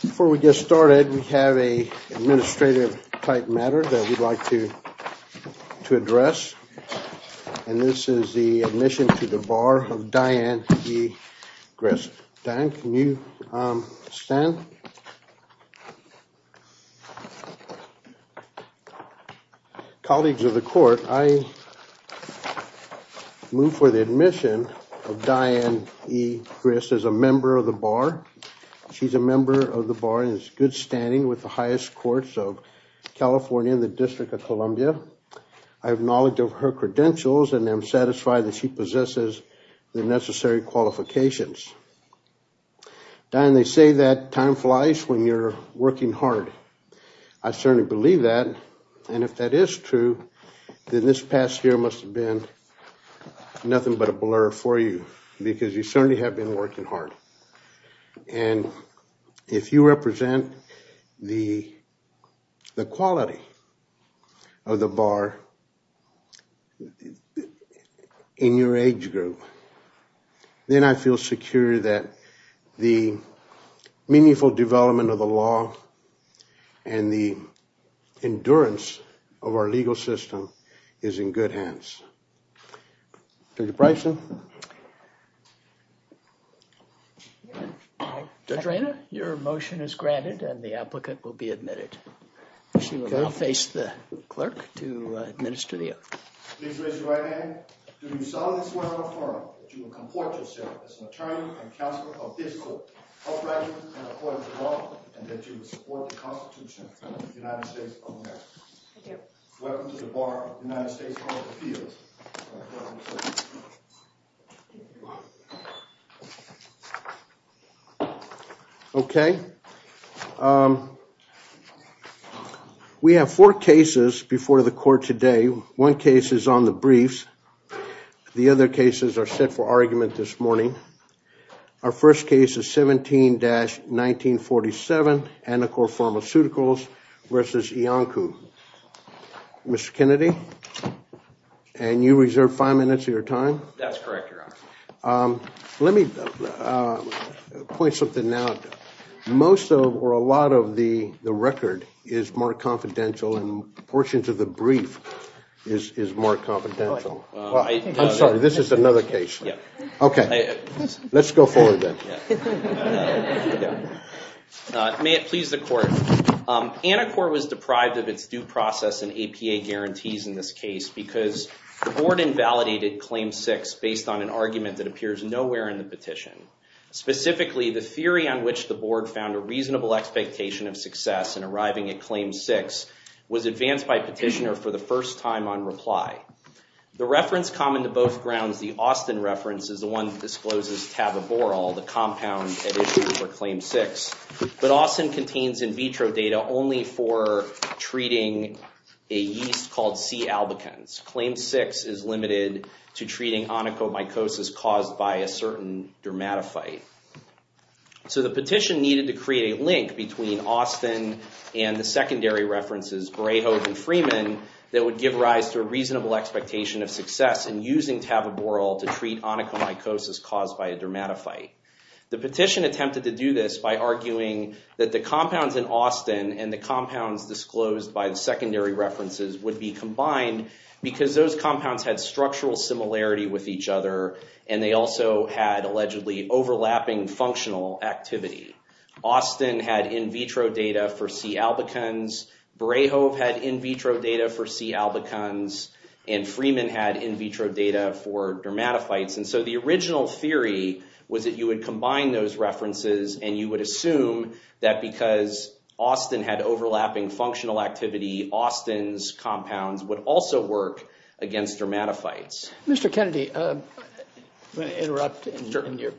Before we get started, we have an administrative type matter that we'd like to address, and this is the admission to the bar of Diane E. Grist. Diane, can you stand? Colleagues of the Court, I move for the admission of Diane E. Grist as a member of the bar. She's a member of the bar and is in good standing with the highest courts of California and the District of Columbia. I have knowledge of her credentials and am satisfied that she possesses the necessary qualifications. Diane, they say that time flies when you're working hard. I certainly believe that, and if that is true, then this past year must have been nothing but a blur for you because you certainly have been working hard. And if you represent the quality of the bar in your age group, then I feel secure that the meaningful development of the law and the endurance of our legal system is in good hands. Judge Reina, your motion is granted and the applicant will be admitted. She will now face the clerk to administer the oath. Please raise your right hand. Do you solemnly swear and affirm that you will comport yourself as an attorney and counsel of this court, upright and according to law, and that you will support the Constitution of the United States of America? I do. Welcome to the bar of the United States Court of Appeals. Okay. We have four cases before the court today. One case is on the briefs. The other cases are set for argument this morning. Our first case is 17-1947, Anacor Pharmaceuticals versus Iancu. Mr. Kennedy, and you reserve five minutes of your time? That's correct, Your Honor. Let me point something out. Most or a lot of the record is more confidential and portions of the brief is more confidential. I'm sorry, this is another case. Okay, let's go forward then. May it please the court. Anacor was deprived of its due process and APA guarantees in this case because the board invalidated Claim 6 based on an argument that appears nowhere in the petition. Specifically, the theory on which the board found a reasonable expectation of success in arriving at Claim 6 was advanced by petitioner for the first time on reply. The reference common to Claim 6, but Austin contains in vitro data only for treating a yeast called C. albicans. Claim 6 is limited to treating onychomycosis caused by a certain dermatophyte. So the petition needed to create a link between Austin and the secondary references, Greyhose and Freeman, that would give rise to a reasonable expectation of success in using this by arguing that the compounds in Austin and the compounds disclosed by the secondary references would be combined because those compounds had structural similarity with each other and they also had allegedly overlapping functional activity. Austin had in vitro data for C. albicans, Greyhose had in vitro data for C. albicans, and Freeman had in vitro data for and you would assume that because Austin had overlapping functional activity, Austin's compounds would also work against dermatophytes. Mr. Kennedy, I'm going to interrupt in your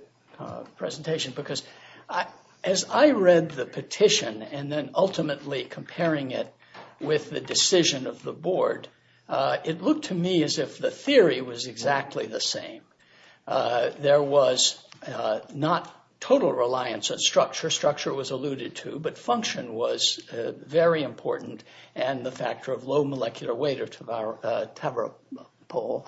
presentation because as I read the petition and then ultimately comparing it with the decision of the board, it looked to me as if the theory was exactly the same. There was not total reliance on structure. Structure was alluded to, but function was very important and the factor of low molecular weight of Tavropol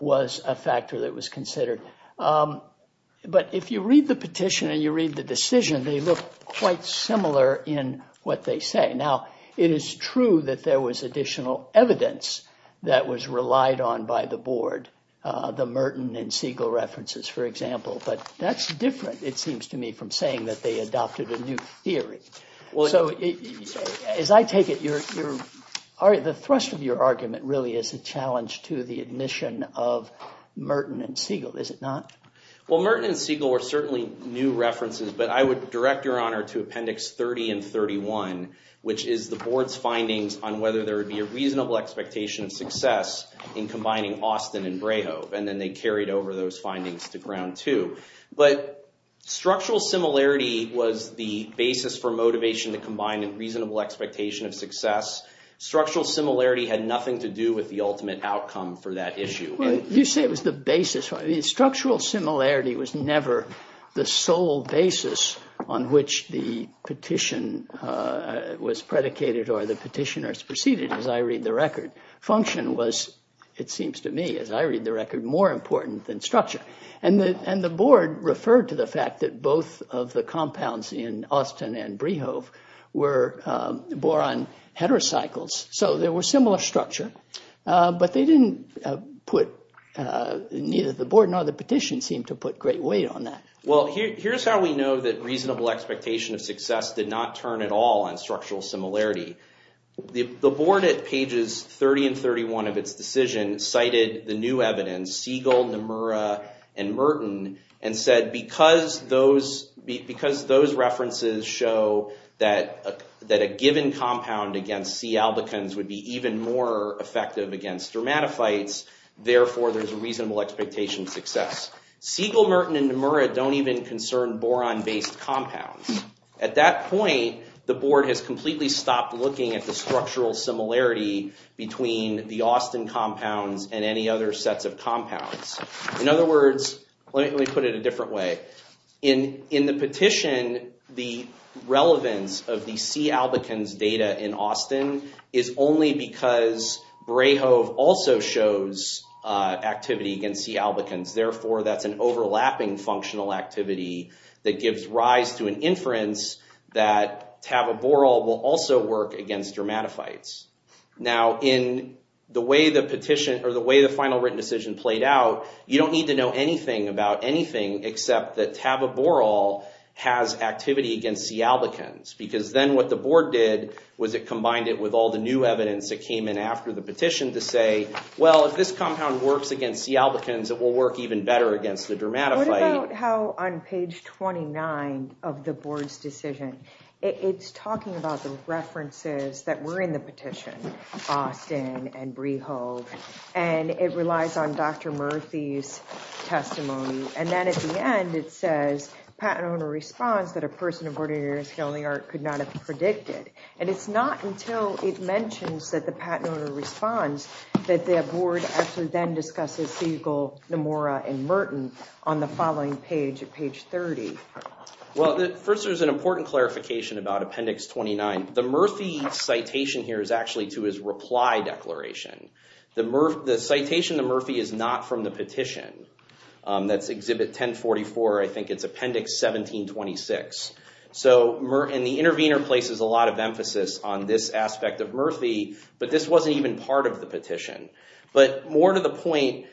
was a factor that was considered. But if you read the petition and you read the decision, they look quite similar in what they say. Now, it is true that there was additional evidence that was relied on by the Merton and Siegel references, for example, but that's different, it seems to me, from saying that they adopted a new theory. So, as I take it, the thrust of your argument really is a challenge to the admission of Merton and Siegel, is it not? Well, Merton and Siegel are certainly new references, but I would direct your honor to appendix 30 and 31, which is the board's findings on whether there would be a reasonable expectation of success in combining Austin and Greyhose, and then they carried over those findings to ground two. But structural similarity was the basis for motivation to combine a reasonable expectation of success. Structural similarity had nothing to do with the ultimate outcome for that issue. Well, you say it was the basis. Structural similarity was never the sole basis on which the petition was predicated or the petitioners proceeded, as I read the record. Function was, it seems to me, as I read the record, more important than structure. And the board referred to the fact that both of the compounds in Austin and Greyhose were boron heterocycles, so there was similar structure, but they didn't put, neither the board nor the petition seemed to put great weight on that. Well, here's how we know that reasonable expectation of success did not turn at all on structural similarity. The board at pages 30 and 31 of its decision cited the new evidence, Siegel, Nomura, and Merton, and said because those references show that a given compound against C. albicans would be even more effective against dermatophytes, therefore there's a reasonable expectation of compounds. At that point, the board has completely stopped looking at the structural similarity between the Austin compounds and any other sets of compounds. In other words, let me put it a different way. In the petition, the relevance of the C. albicans data in Austin is only because Greyhose also shows activity against C. albicans, therefore that's an overlapping functional activity that gives rise to an inference that taboborol will also work against dermatophytes. Now, in the way the petition or the way the final written decision played out, you don't need to know anything about anything except that taboborol has activity against C. albicans, because then what the board did was it combined it with all the new evidence that came in after the petition to say, well, if this compound works against C. albicans, it will work even better against the dermatophyte. What about how on page 29 of the board's decision, it's talking about the references that were in the petition, Austin and Greyhose, and it relies on Dr. Murthy's testimony, and then at the end it says patent owner responds that a person of ordinary skin only art could not have predicted, and it's not until it mentions that the patent owner responds that the board actually then discusses Siegel, Nomura, and Merton on the following page at page 30. Well, first there's an important clarification about appendix 29. The Murthy citation here is actually to his reply declaration. The citation to Murthy is not from the petition. That's exhibit 1044. I think it's appendix 1726, and the intervener places a lot of emphasis on this aspect of Murthy, but this wasn't even part of the petition. But more to the point,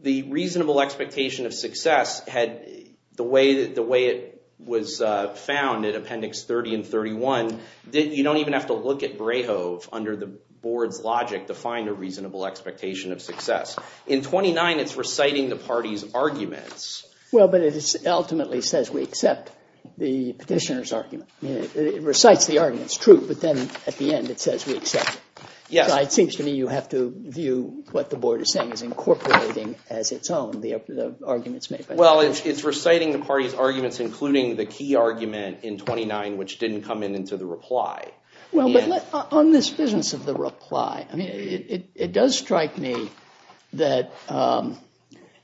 the reasonable expectation of success, the way it was found in appendix 30 and 31, you don't even have to look at Greyhose under the board's logic to find a reasonable expectation of success. In 29, it's reciting the party's arguments. Well, but it ultimately says we accept the petitioner's argument. It recites the argument. It's true, but then at the end it says we accept it. Yeah, it seems to me you have to view what the board is saying is incorporating as its own the arguments made. Well, it's reciting the party's arguments, including the key argument in 29, which didn't come in into the reply. Well, but on this business of the reply, I mean, it does strike me that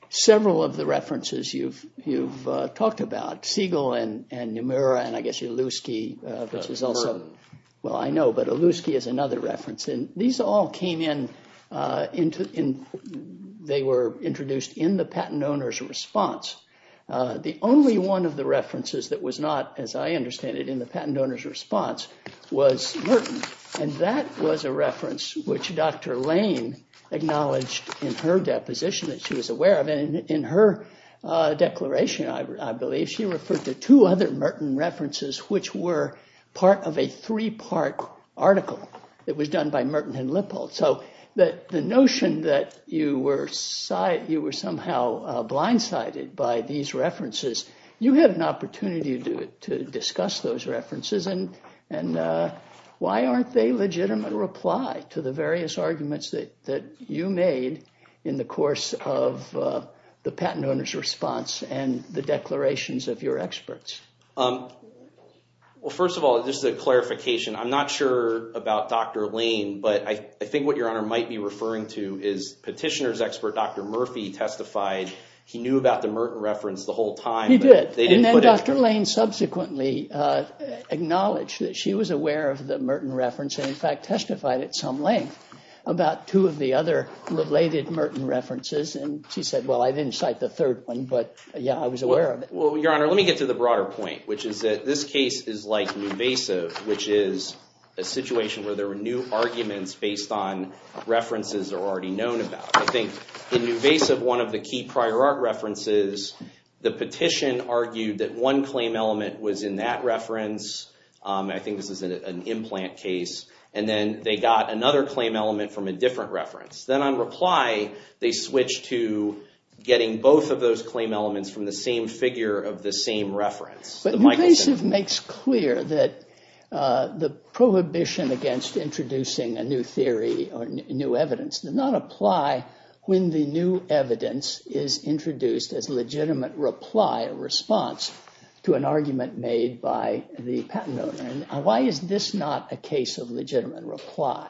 several of the references you've talked about, Siegel and Nomura, and I guess these all came in. They were introduced in the patent owner's response. The only one of the references that was not, as I understand it, in the patent owner's response was Merton, and that was a reference which Dr. Lane acknowledged in her deposition that she was aware of. In her declaration, I believe, she referred to two other Merton references, which were part of a three-part article that was done by Merton and Lippold. So the notion that you were somehow blindsided by these references, you had an opportunity to discuss those references, and why aren't they legitimate reply to the various arguments that you made in the course of the declarations of your experts? Well, first of all, this is a clarification. I'm not sure about Dr. Lane, but I think what your honor might be referring to is petitioner's expert Dr. Murphy testified he knew about the Merton reference the whole time. He did, and then Dr. Lane subsequently acknowledged that she was aware of the Merton reference, and in fact testified at some length about two of the other related Merton references, and she said, well, I didn't cite the third one, but yeah, I was aware of it. Well, your honor, let me get to the broader point, which is that this case is like Nuvasiv, which is a situation where there are new arguments based on references that are already known about. I think in Nuvasiv, one of the key prior art references, the petition argued that one claim element was in that reference. I think this is an implant case, and then they got another claim element from a different reference. Then on reply, they switched to getting both of those claim elements from the same figure of the same reference. But Nuvasiv makes clear that the prohibition against introducing a new theory or new evidence does not apply when the new evidence is introduced as legitimate reply or response to an argument made by the patent owner. Why is this not a case of legitimate reply?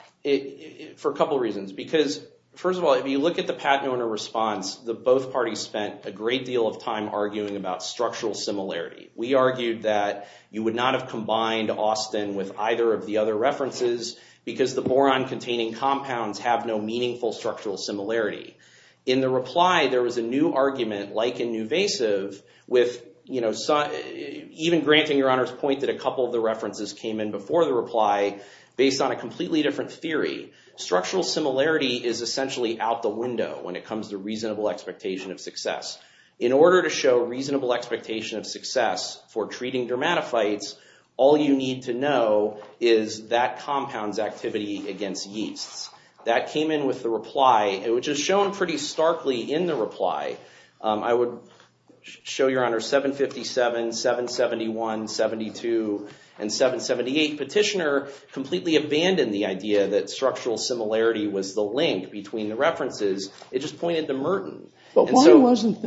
For a couple reasons, because first of all, if you look at the patent owner response, the both parties spent a great deal of time arguing about structural similarity. We argued that you would not have combined Austin with either of the other references because the boron-containing compounds have no meaningful structural similarity. In the reply, there was a new argument like in Nuvasiv with, you know, even granting your references came in before the reply based on a completely different theory. Structural similarity is essentially out the window when it comes to reasonable expectation of success. In order to show reasonable expectation of success for treating dermatophytes, all you need to know is that compound's activity against yeasts. That came in with the reply, which is shown pretty Petitioner completely abandoned the idea that structural similarity was the link between the references. It just pointed to Merton. But why wasn't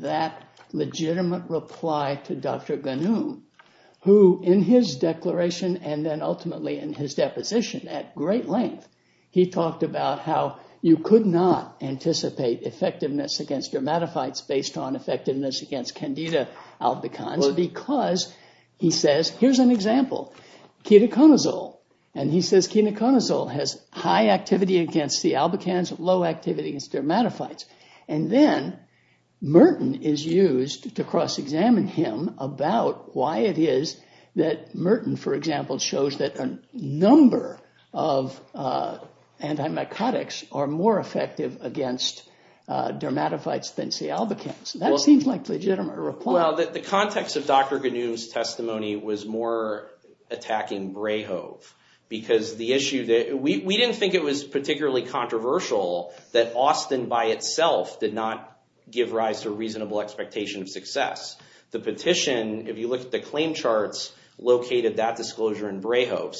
that legitimate reply to Dr. Ghanoum, who in his declaration and then ultimately in his deposition at great length, he talked about how you could not anticipate effectiveness against dermatophytes based on effectiveness against Candida albicans because he says, here's an example, ketoconazole. And he says ketoconazole has high activity against C. albicans, low activity against dermatophytes. And then Merton is used to cross-examine him about why it is that Merton, for example, shows that a number of anti-mycotics are more effective against dermatophytes than C. albicans. That seems like a legitimate reply. Well, the context of Dr. Ghanoum's testimony was more attacking Brayhove because the issue that we didn't think it was particularly controversial that Austin by itself did not give rise to reasonable expectation of success. The petition, if you look at the claim charts, located that Merton and Brayhove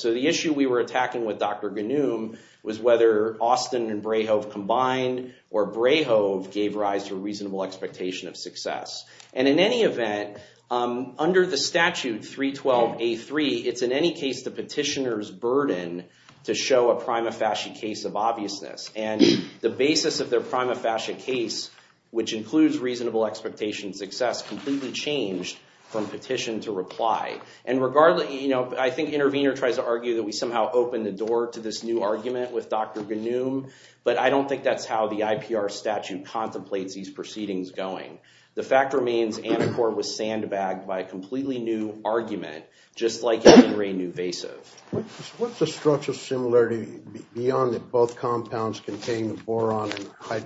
combined, or Brayhove gave rise to a reasonable expectation of success. And in any event, under the statute 312A3, it's in any case the petitioner's burden to show a prima facie case of obviousness. And the basis of their prima facie case, which includes reasonable expectation of success, completely changed from petition to reply. And I think Intervenor tries to argue that we somehow opened the door to this new argument with Dr. Ghanoum, but I don't think that's how the IPR statute contemplates these proceedings going. The fact remains Anacor was sandbagged by a completely new argument, just like in In re Nuvasiv. What's the structural similarity beyond that both compounds contain the boron and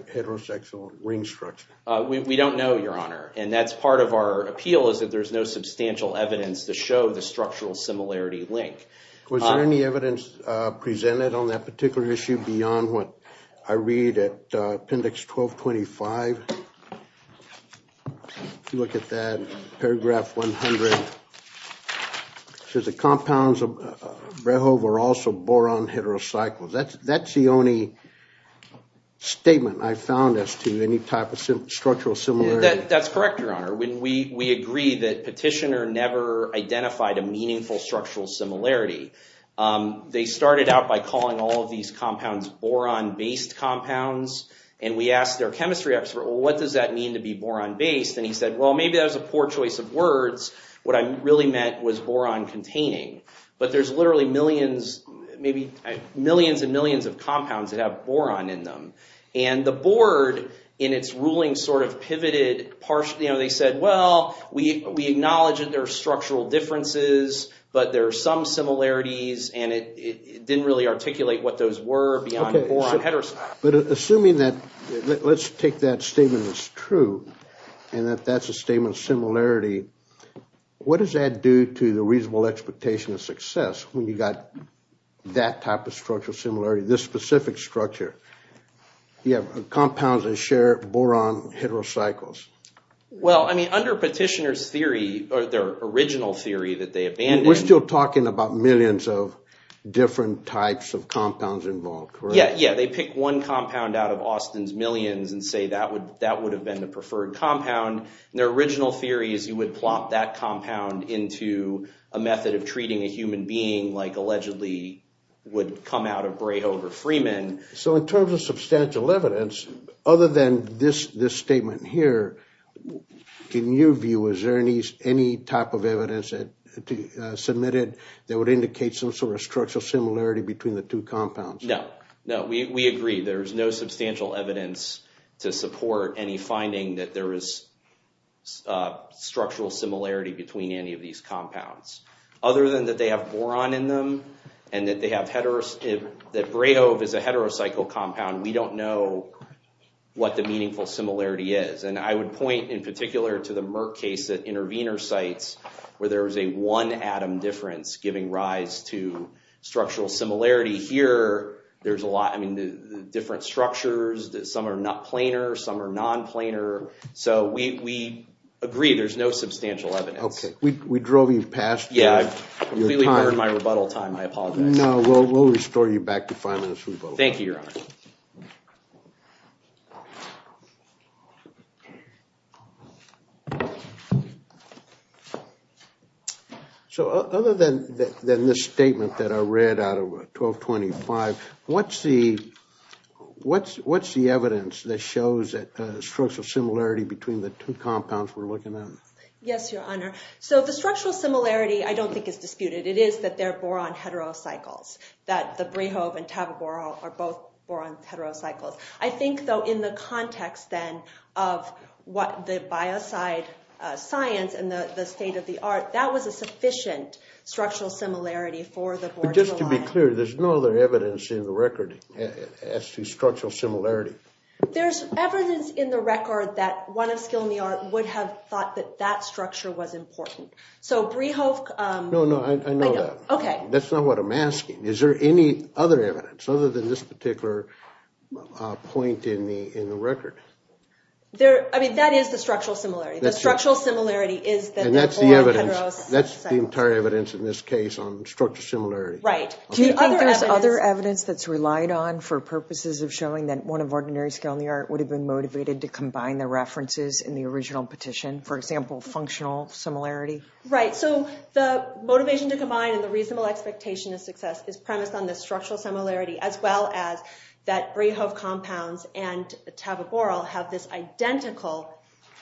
heterosexual ring structure? We don't know, your honor, and that's part of our appeal, is that there's no substantial evidence to show the structural similarity link. Was there any evidence presented on that particular issue beyond what I read at appendix 1225? If you look at that paragraph 100, it says the compounds of Brayhove were also boron heterocycles. That's the only statement I found as to any type of structural similarity. That's correct, your honor. We agree that petitioner never identified a meaningful structural similarity. They started out by calling all of these compounds boron-based compounds, and we asked their chemistry expert, well, what does that mean to be boron-based? And he said, well, maybe that was a poor choice of words. What I really meant was boron-containing. But there's literally millions, maybe millions and millions of compounds that have boron in them. And the board, in its ruling, sort of pivoted partially. They said, well, we acknowledge there are structural differences, but there are some similarities, and it didn't really articulate what those were beyond boron heterocycles. But assuming that, let's take that statement as true, and that that's a statement of similarity, what does that do to the reasonable expectation of success when you got that type of structural similarity, this specific structure? You have compounds that share boron heterocycles. Well, I mean, under petitioner's theory, or their original theory that they abandoned- We're still talking about millions of different types of compounds involved, correct? Yeah, yeah. They pick one compound out of Austin's millions and say that would have been the preferred compound. Their original theory is you would plop that compound into a method of treating a human being like allegedly would come out of Brayhove or Freeman. So in terms of substantial evidence, other than this statement here, in your view, is there any type of evidence submitted that would indicate some sort of structural similarity between the two compounds? No, no, we agree. There's no substantial evidence to support any finding that there is structural similarity between any of these compounds. We don't know what the meaningful similarity is. And I would point in particular to the Merck case at intervenor sites, where there was a one atom difference giving rise to structural similarity. Here, there's a lot, I mean, the different structures, some are not planar, some are non-planar. So we agree, there's no substantial evidence. Okay, we drove you past your time. Yeah, I completely burned my rebuttal time, I apologize. No, we'll restore you back to five minutes Thank you, your honor. So other than this statement that I read out of 1225, what's the evidence that shows that structural similarity between the two compounds we're looking at? Yes, your honor. So the structural similarity, I don't think is disputed. It is that they're both boron heterocycles. I think, though, in the context, then, of what the biocide science and the state of the art, that was a sufficient structural similarity for the board to rely on. But just to be clear, there's no other evidence in the record as to structural similarity. There's evidence in the record that one of skill in the art would have thought that that structure was important. So Brehoft... No, no, I know that. Okay. That's not what I'm asking. Is there any other evidence other than this particular point in the record? I mean, that is the structural similarity. The structural similarity is that... And that's the evidence, that's the entire evidence in this case on structural similarity. Right. Do you think there's other evidence that's relied on for purposes of showing that one of ordinary skill in the art would have been motivated to combine the references in the original petition, for example, functional similarity? Right. So the motivation to combine and the reasonable expectation of success is premised on the structural similarity, as well as that Brehoft compounds and taboboral have this identical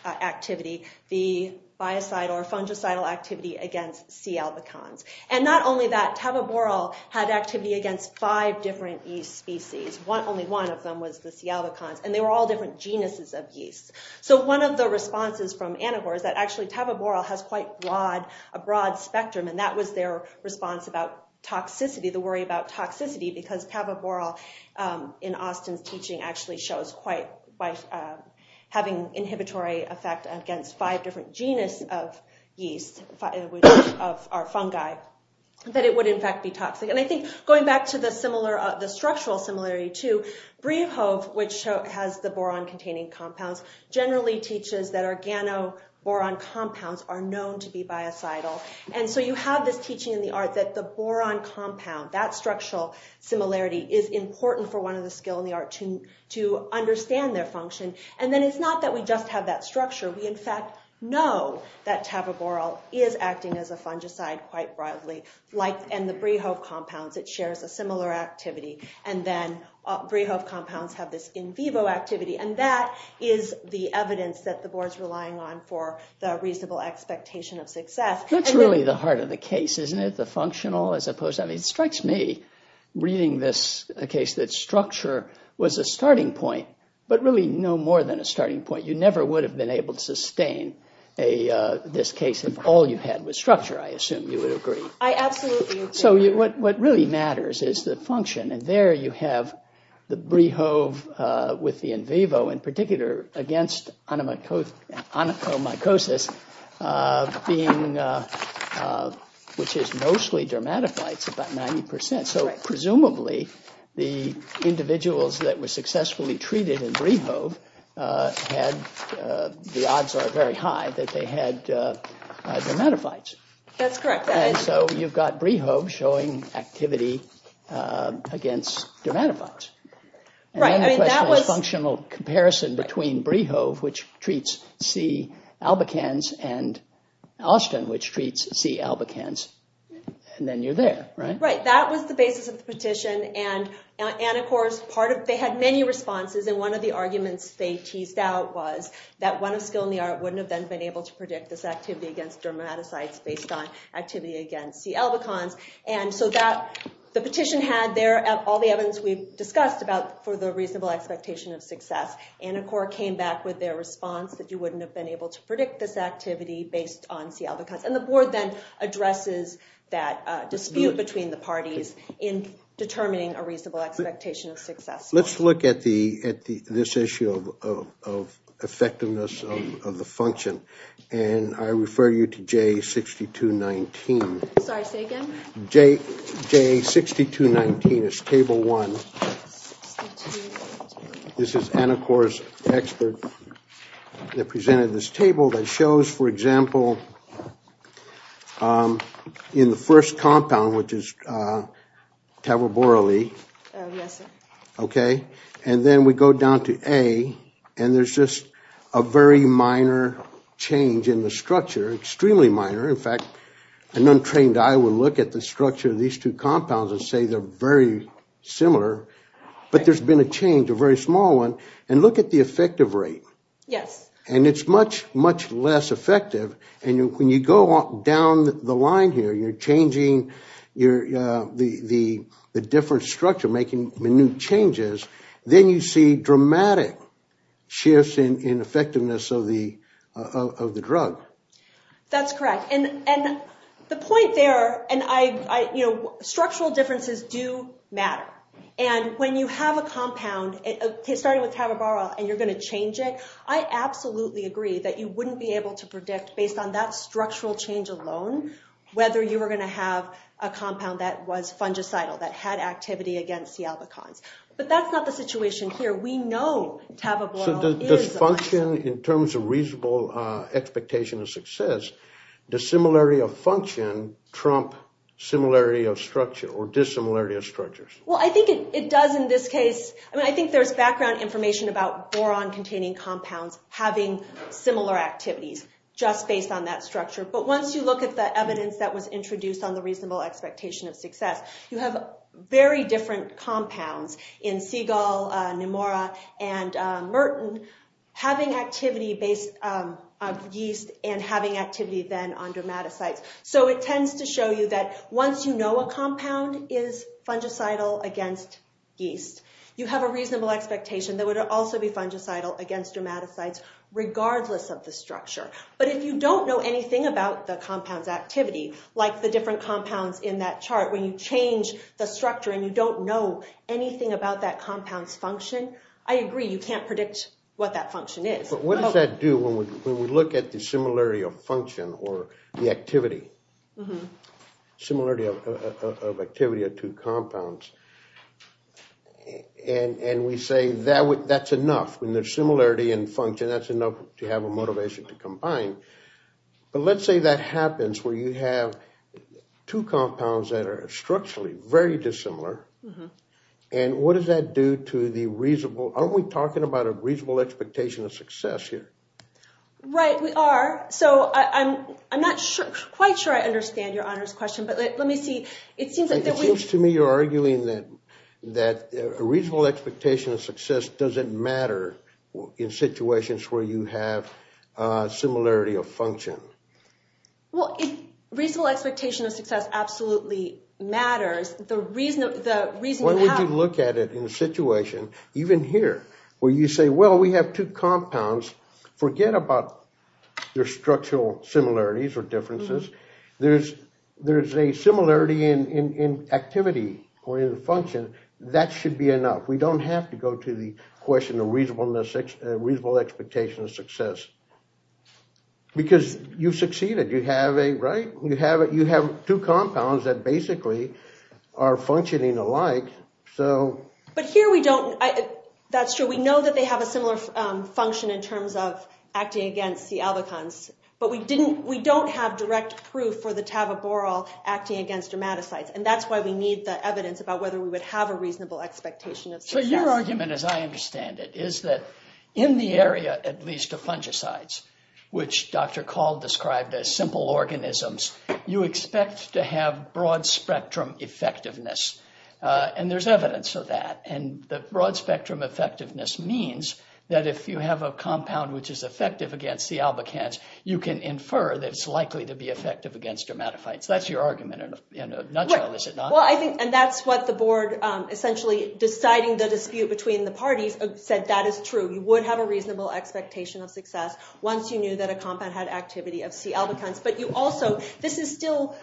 activity, the biocide or fungicidal activity against C. albicans. And not only that, taboboral had activity against five different yeast species. Only one of them was the C. albicans, and they were all different genuses of yeast. So one of the responses from Anahor is that actually taboboral has quite a broad spectrum, and that was their response about toxicity, the worry about toxicity, because taboboral, in Austin's teaching, actually shows quite by having inhibitory effect against five different genus of yeast, of our fungi, that it would in fact be toxic. And I think going back to the structural similarity too, Brehoft, which has the boron containing compounds, generally teaches that organoboron compounds are known to be biocidal. And so you have this teaching in the art that the boron compound, that structural similarity, is important for one of the skill in the art to understand their function. And then it's not that we just have that structure. We in fact know that taboboral is acting as a fungicide quite broadly. And the Brehoft compounds, it shares a similar activity. And then Brehoft compounds have this in vivo activity. And that is the evidence that the board's relying on for the reasonable expectation of success. That's really the heart of the case, isn't it? The functional as opposed to... I mean, it strikes me, reading this case, that structure was a starting point, but really no more than a starting point. You never would have been able to sustain this case if all you had was structure, I assume you would agree. I absolutely agree. So what really matters is the function. And there you have the Brehoft with the in vivo in particular against onychomycosis, which is mostly dermatophytes, about 90%. So presumably the individuals that were successfully treated in Brehoft had the odds are very high that they had dermatophytes. That's correct. And so you've got Brehoft showing activity against dermatophytes. And then you question the functional comparison between Brehoft, which treats C. albicans, and Austin, which treats C. albicans. And then you're there, right? Right. That was the basis of the petition. And of course, they had many responses. And one of the arguments they teased out was that one of skill in the art wouldn't have been able to predict this activity against dermatocytes based on activity against C. albicans. And so the petition had there all the evidence we've discussed about for the reasonable expectation of success. Anacor came back with their response that you wouldn't have been able to predict this activity based on C. albicans. And the board then addresses that dispute between the parties in determining a reasonable expectation of success. Let's look at this issue of effectiveness of the function. And I refer you to J62.19. I'm sorry, say again? J62.19 is table one. This is Anacor's expert that presented this table that shows, for example, in the first compound, which is Tavoboroli. Okay. And then we go down to A. And there's just a very minor change in the structure, extremely minor. In fact, an untrained eye will look at the structure of these two compounds and say they're very similar. But there's been a change, a very small one. And look at the effective rate. Yes. And it's much, much less effective. And when you go down the line here, you're changing the different structure, making minute changes. Then you see dramatic shifts in effectiveness of the drug. That's correct. And the point there, and structural differences do matter. And when you have a compound, starting with Tavoboroli, and you're going to change it, I absolutely agree that you wouldn't be able to predict, based on that structural change alone, whether you were going to have a compound that was fungicidal, that had activity against the albicons. But that's not the situation here. We know Tavoboroli is a... So does function, in terms of reasonable expectation of success, does similarity of function trump similarity of structure, or dissimilarity of structures? Well, I think it does in this case. I mean, I think there's background information about boron-containing compounds having similar activities, just based on that structure. But once you look at the evidence that was introduced on the reasonable expectation of success, you have very different compounds in Seagull, Nemora, and Merton, having activity based on yeast, and having activity then on dermatocytes. So it tends to show you that once you know a compound is fungicidal against yeast, you have a reasonable expectation that it would also be fungicidal against dermatocytes, regardless of the structure. But if you don't know anything about the compound's activity, like the different compounds in that chart, when you change the structure, and you don't know anything about that compound's function, I agree, you can't predict what that function is. But what does that do when we look at the similarity of function or the activity? Similarity of activity of two compounds. And we say that's enough, when there's similarity in function, that's enough to have a motivation to combine. But let's say that happens where you have two compounds that are structurally very dissimilar, and what does that do to the reasonable, aren't we talking about a reasonable expectation of success here? Right, we are. So I'm not quite sure I understand your honors question, but let me see. It seems to me you're arguing that a reasonable expectation of success doesn't matter in situations where you have similarity of function. Well, reasonable expectation of success absolutely matters. When would you look at it in a situation, even here, where you say, well, we have two compounds, forget about their structural similarities or differences. There's a similarity in activity or in function, that should be enough. We don't have to go to the question of reasonable expectation of success. Because you've succeeded. You have two compounds that basically are functioning alike. But here we don't, that's true. We know that they have a similar function in terms of acting against the albicons, but we don't have direct proof for the tavoboryl acting against dermatocytes. And that's why we need the evidence about whether we would have a reasonable expectation of success. So your argument, as I understand it, is that in the area, at least, of fungicides, which Dr. Cald described as simple organisms, you expect to have broad-spectrum effectiveness. And there's evidence of that. And the broad-spectrum effectiveness means that if you have a compound which is effective against the albicans, you can infer that it's likely to be effective against dermatophytes. That's your argument in a nutshell, is it not? And that's what the board, essentially deciding the dispute between the parties, said that is true. You would have a reasonable expectation of success once you knew that a compound had activity of C. albicans. But you also, this is still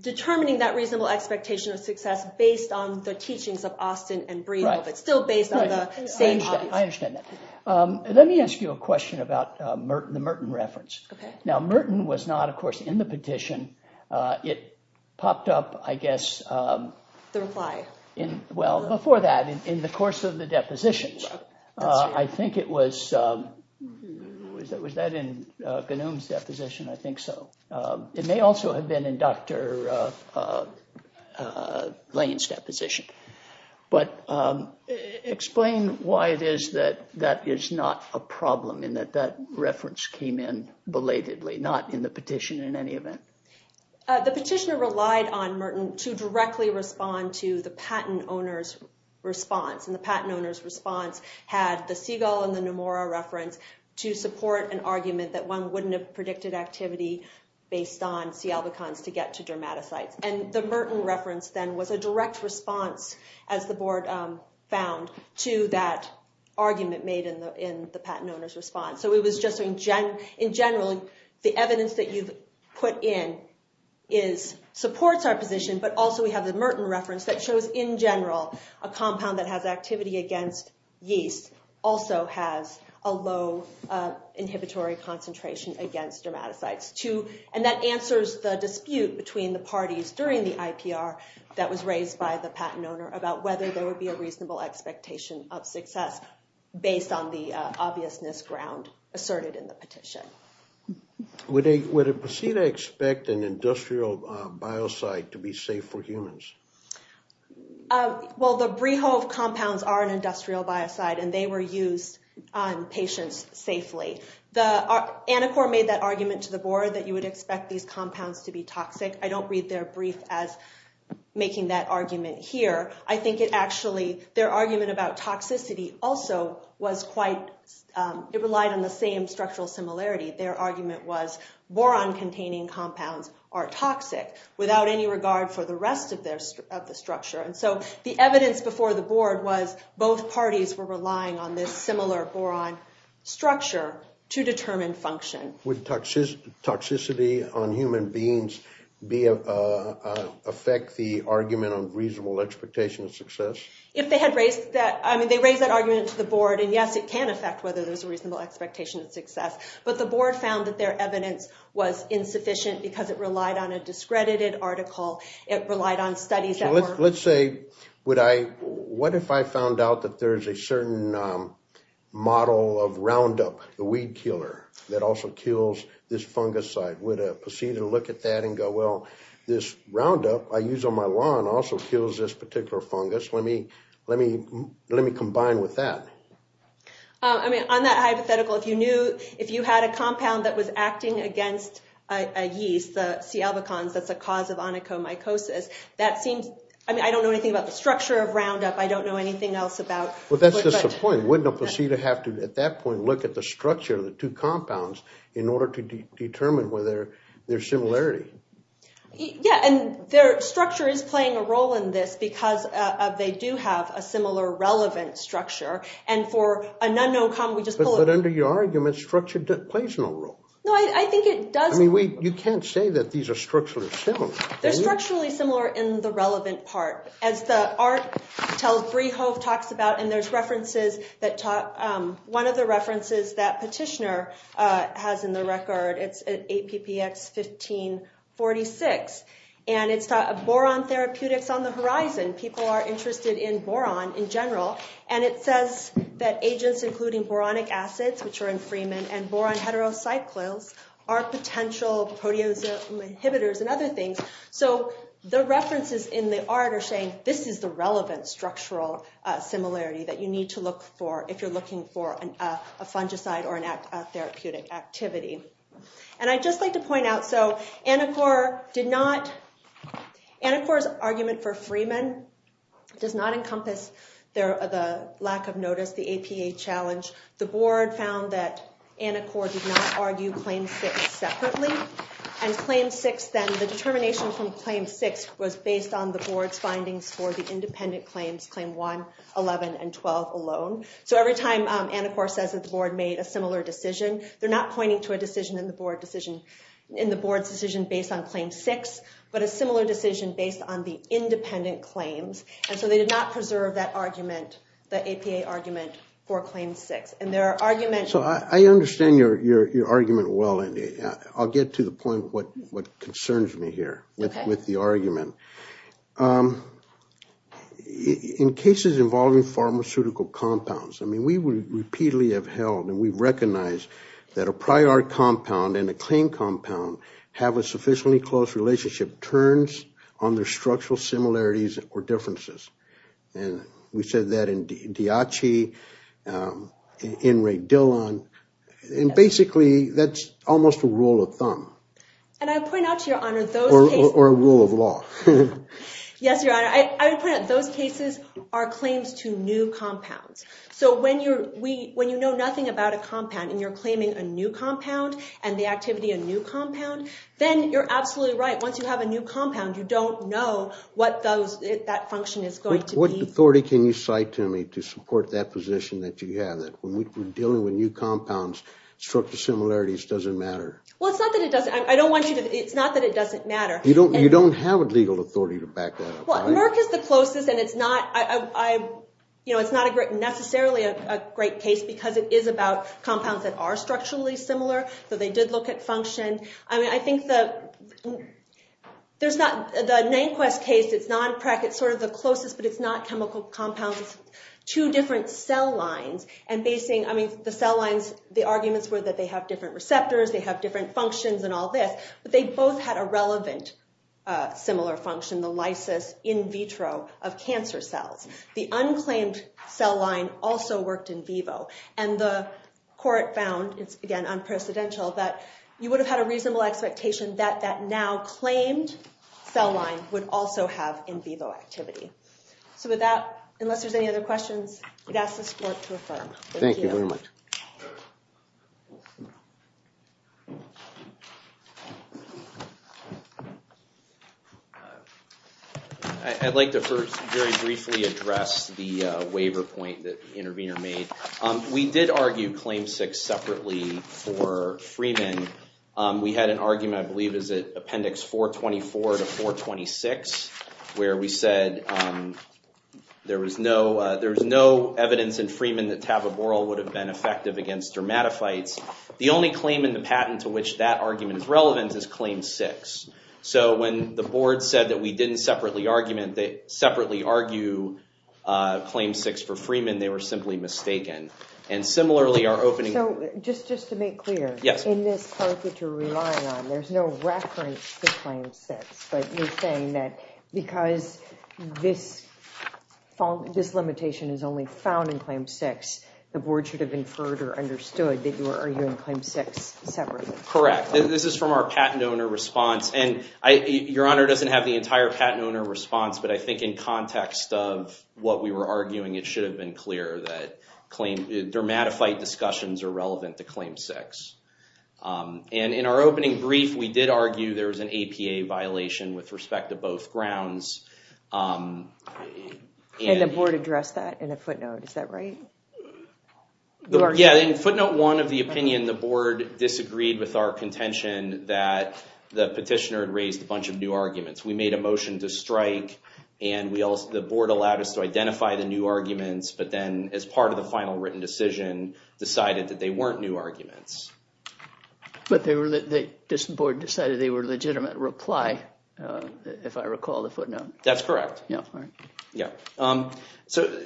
determining that reasonable expectation of success based on the teachings of Austin and Breedl, but still based on the same hobbies. I understand that. Let me ask you a question about the Merton reference. Now, Merton was not, of course, in the petition. It popped up, I guess, well, before that, in the course of the depositions. I think it was, was that in Ghanoum's deposition? I think so. It may also have been in Dr. Lane's deposition. But explain why it is that that is not a problem, in that that reference came in belatedly, not in the petition in any event. The petitioner relied on Merton to directly respond to the patent owner's response. And the patent owner's response had the Siegel and the Nomura reference to support an argument that one wouldn't have predicted activity based on C. albicans to get to dermatocytes. And the Merton reference then was a direct response, as the board found, to that argument made in the patent owner's response. So it was just in general, the evidence that you've put in supports our position. But also, we have the Merton reference that shows, in general, a compound that has activity against yeast also has a low inhibitory concentration against dermatocytes. And that answers the dispute between the parties during the IPR that was raised by the patent owner about whether there would be a reasonable expectation of success based on the obviousness of the ground asserted in the petition. Would a patient expect an industrial biocide to be safe for humans? Well, the Brehove compounds are an industrial biocide, and they were used on patients safely. The Anacor made that argument to the board that you would expect these compounds to be toxic. I don't read their brief as making that argument here. I think it actually, their argument about toxicity also was quite, it relied on the same structural similarity. Their argument was boron-containing compounds are toxic without any regard for the rest of the structure. And so the evidence before the board was both parties were relying on this similar boron structure to determine function. Would toxicity on human beings affect the argument on reasonable expectation of success? If they had raised that, I mean, they raised that argument to the board, and yes, it can affect whether there's a reasonable expectation of success. But the board found that their evidence was insufficient because it relied on a discredited article. It relied on studies that were- Let's say, would I, what if I found out that there is a certain model of Roundup, the weed killer, that also kills this fungicide? Would a poseidon look at that and go, well, this Roundup I use on my lawn also kills this particular fungus. Let me combine with that. I mean, on that hypothetical, if you knew, if you had a compound that was acting against yeast, the C. albicans, that's a cause of onychomycosis, that seems, I mean, I don't know anything about the structure of Roundup. I don't know anything else about- Well, that's just the point. Wouldn't a poseidon have to, at that point, look at the structure of the two compounds in order to determine whether there's similarity? Yeah, and their structure is playing a role in this because they do have a similar relevant structure. And for a non-no-com, we just pull it- But under your argument, structure plays no role. No, I think it does- I mean, you can't say that these are structurally similar. They're structurally similar in the relevant part. As the art tells, Brehove talks about, and there's references that talk, one of the references that Petitioner has in the record, it's at APPX 1546, and it's boron therapeutics on the horizon. People are interested in boron in general, and it says that agents including boronic acids, which are in Freeman, and boron heterocyclics are potential proteasome inhibitors and other things. So the references in the art are saying, this is the relevant structural similarity that you need to look for if you're looking for a fungicide or a therapeutic activity. And I'd just like to point out, so Anacor did not- Anacor's argument for Freeman does not encompass the lack of notice, the APA challenge. The board found that Anacor did not argue Claim 6 separately. And Claim 6 then, the determination from Claim 6 was based on the board's findings for the independent claims, Claim 1, 11, and 12 alone. So every time Anacor says that the board made a similar decision, they're not pointing to a decision in the board's decision based on Claim 6, but a similar decision based on the independent claims. And so they did not preserve that argument, the APA argument for Claim 6. And there are arguments- So I understand your argument well. I'll get to the point what concerns me here with the argument. In cases involving pharmaceutical compounds, I mean, we repeatedly have held and we've recognized that a prior compound and a claim compound have a sufficiently close relationship turns on their structural similarities or differences. And we said that in Diachi, in Ray Dillon, and basically that's almost a rule of thumb. And I point out to your honor, those cases- Or a rule of law. Yes, your honor. I would point out those cases are claims to new compounds. So when you know nothing about a compound and you're claiming a new compound and the activity of a new compound, then you're absolutely right. Once you have a new compound, you don't know what that function is going to be. What authority can you cite to me to support that position that you have, that when we're dealing with new compounds, structural similarities doesn't matter? Well, it's not that it doesn't. I don't want you to- It's not that it doesn't matter. You don't have a legal authority to back that up, right? Well, Merck is the closest and it's not necessarily a great case because it is about compounds that are structurally similar. So they did look at function. I mean, I think the Nanquist case, it's not Merck, it's sort of the closest, but it's not chemical compounds. It's two different cell lines and basing- I mean, the cell lines, the arguments were that they have different receptors, they have different functions and all this, but they both had a relevant similar function, the lysis in vitro of cancer cells. The unclaimed cell line also worked in vivo. And the court found, it's again, unprecedential, that you would have had a reasonable expectation that that now claimed cell line would also have in vivo activity. So with that, unless there's any other questions, I'd ask the court to affirm. Thank you very much. I'd like to first very briefly address the waiver point that the intervener made. We did argue Claim 6 separately for Freeman. We had an argument, I believe, is it Appendix 424 to 426, where we said there was no evidence in Freeman that taboborrel would have been effective against dermatophytes. The only claim in the patent to which that argument is relevant is Claim 6. So when the board said that we didn't separately argue Claim 6 for Freeman, they were simply mistaken. And similarly, our opening- So just to make clear, in this part that you're relying on, there's no reference to Claim 6. But you're saying that because this limitation is only found in Claim 6, the board should have inferred or understood that you were arguing Claim 6 separately. Correct. This is from our patent owner response. And Your Honor doesn't have the entire patent owner response, but I think in context of what we were arguing, it should have been clear that dermatophyte discussions are relevant to Claim 6. And in our opening brief, we did argue there was an APA violation with respect to both grounds. And the board addressed that in a footnote, is that right? Yeah, in footnote one of the opinion, the board disagreed with our contention that the petitioner had raised a bunch of new arguments. We made a motion to strike, and the board allowed us to identify the new arguments, but then as part of the final written decision, decided that they weren't new arguments. But the board decided they were a legitimate reply, if I recall the footnote. That's correct. So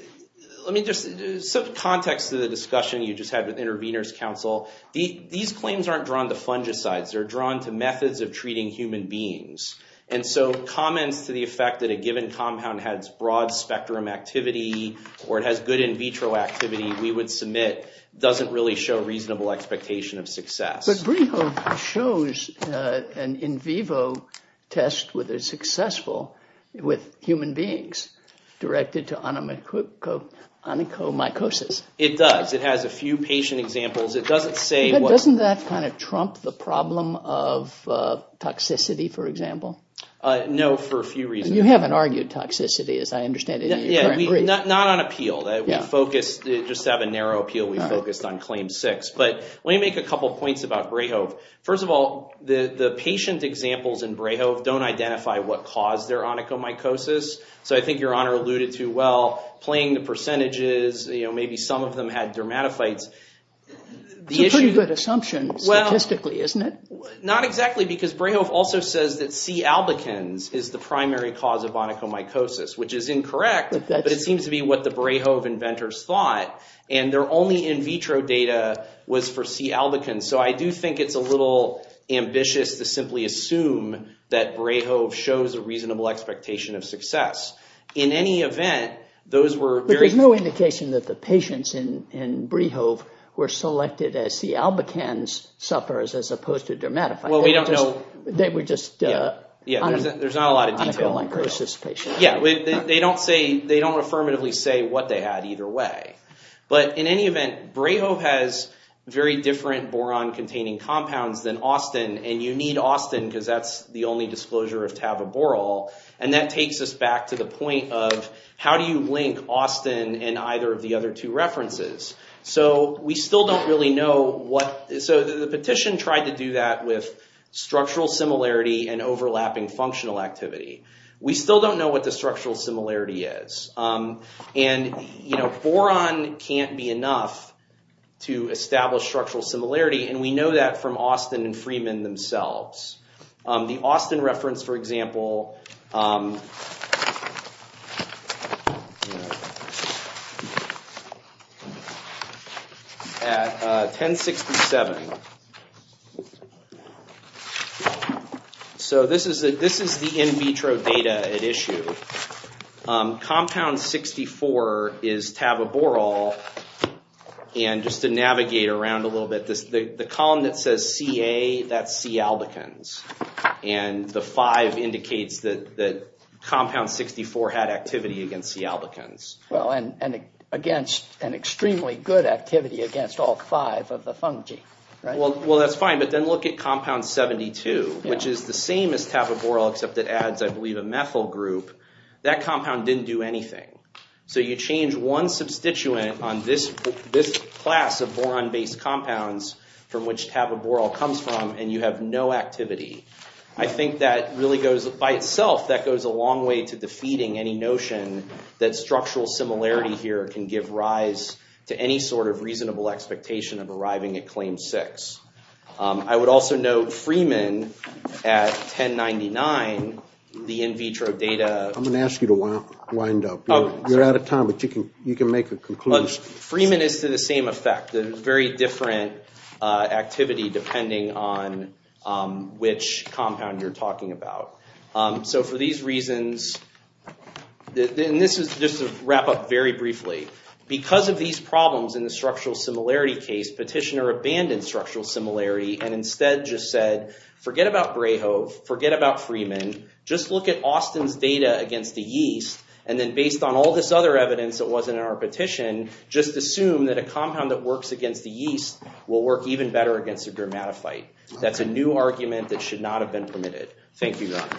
let me just, some context to the discussion you just had with Intervenors Council. These claims aren't drawn to fungicides. They're drawn to methods of treating human beings. And so comments to the effect that a given compound has broad spectrum activity, or it has good in vitro activity, we would submit doesn't really show reasonable expectation of success. But BRIHO shows an in vivo test whether it's successful with human beings directed to onychomycosis. It does. It has a few patient examples. It doesn't say what... No, for a few reasons. You haven't argued toxicity, as I understand it. Not on appeal. Just to have a narrow appeal, we focused on Claim 6. But let me make a couple points about BRIHO. First of all, the patient examples in BRIHO don't identify what caused their onychomycosis. So I think Your Honor alluded to, well, playing the percentages, you know, maybe some of them had dermatophytes. It's a pretty good assumption statistically, isn't it? Not exactly, because BRIHO also says that C. albicans is the primary cause of onychomycosis, which is incorrect. But it seems to be what the BRIHO inventors thought. And their only in vitro data was for C. albicans. So I do think it's a little ambitious to simply assume that BRIHO shows a reasonable expectation of success. In any event, those were very... But there's no indication that the patients in BRIHO were selected as C. albicans sufferers, as opposed to dermatophytes. Well, we don't know... They were just... Yeah, there's not a lot of detail. Onychomycosis patients. Yeah, they don't say... They don't affirmatively say what they had either way. But in any event, BRIHO has very different boron-containing compounds than Austin. And you need Austin, because that's the only disclosure of taboborol. And that takes us back to the point of, how do you link Austin and either of the other two references? So we still don't really know what... So the petition tried to do that with structural similarity and overlapping functional activity. We still don't know what the structural similarity is. And boron can't be enough to establish structural similarity. And we know that from Austin and Freeman themselves. The Austin reference, for example, at 1067. So this is the in vitro data at issue. Compound 64 is taboborol. And just to navigate around a little bit, the column that says CA, that's C albican. And the five indicates that compound 64 had activity against C albicans. Well, and against an extremely good activity against all five of the fungi, right? Well, that's fine. But then look at compound 72, which is the same as taboborol, except it adds, I believe, a methyl group. That compound didn't do anything. So you change one substituent on this class of boron-based compounds from which taboborol comes from, and you have no activity. I think that really goes, by itself, that goes a long way to defeating any notion that structural similarity here can give rise to any sort of reasonable expectation of arriving at claim six. I would also note Freeman at 1099, the in vitro data. I'm gonna ask you to wind up. You're out of time, but you can make a conclusion. Freeman is to the same effect. Very different activity, depending on which compound you're talking about. So for these reasons, and this is just to wrap up very briefly. Because of these problems in the structural similarity case, Petitioner abandoned structural similarity and instead just said, forget about Brayhove, forget about Freeman. Just look at Austin's data against the yeast. And then based on all this other evidence that wasn't in our petition, just assume that a compound that works against the yeast will work even better against the grammatophyte. That's a new argument that should not have been permitted. Thank you, guys.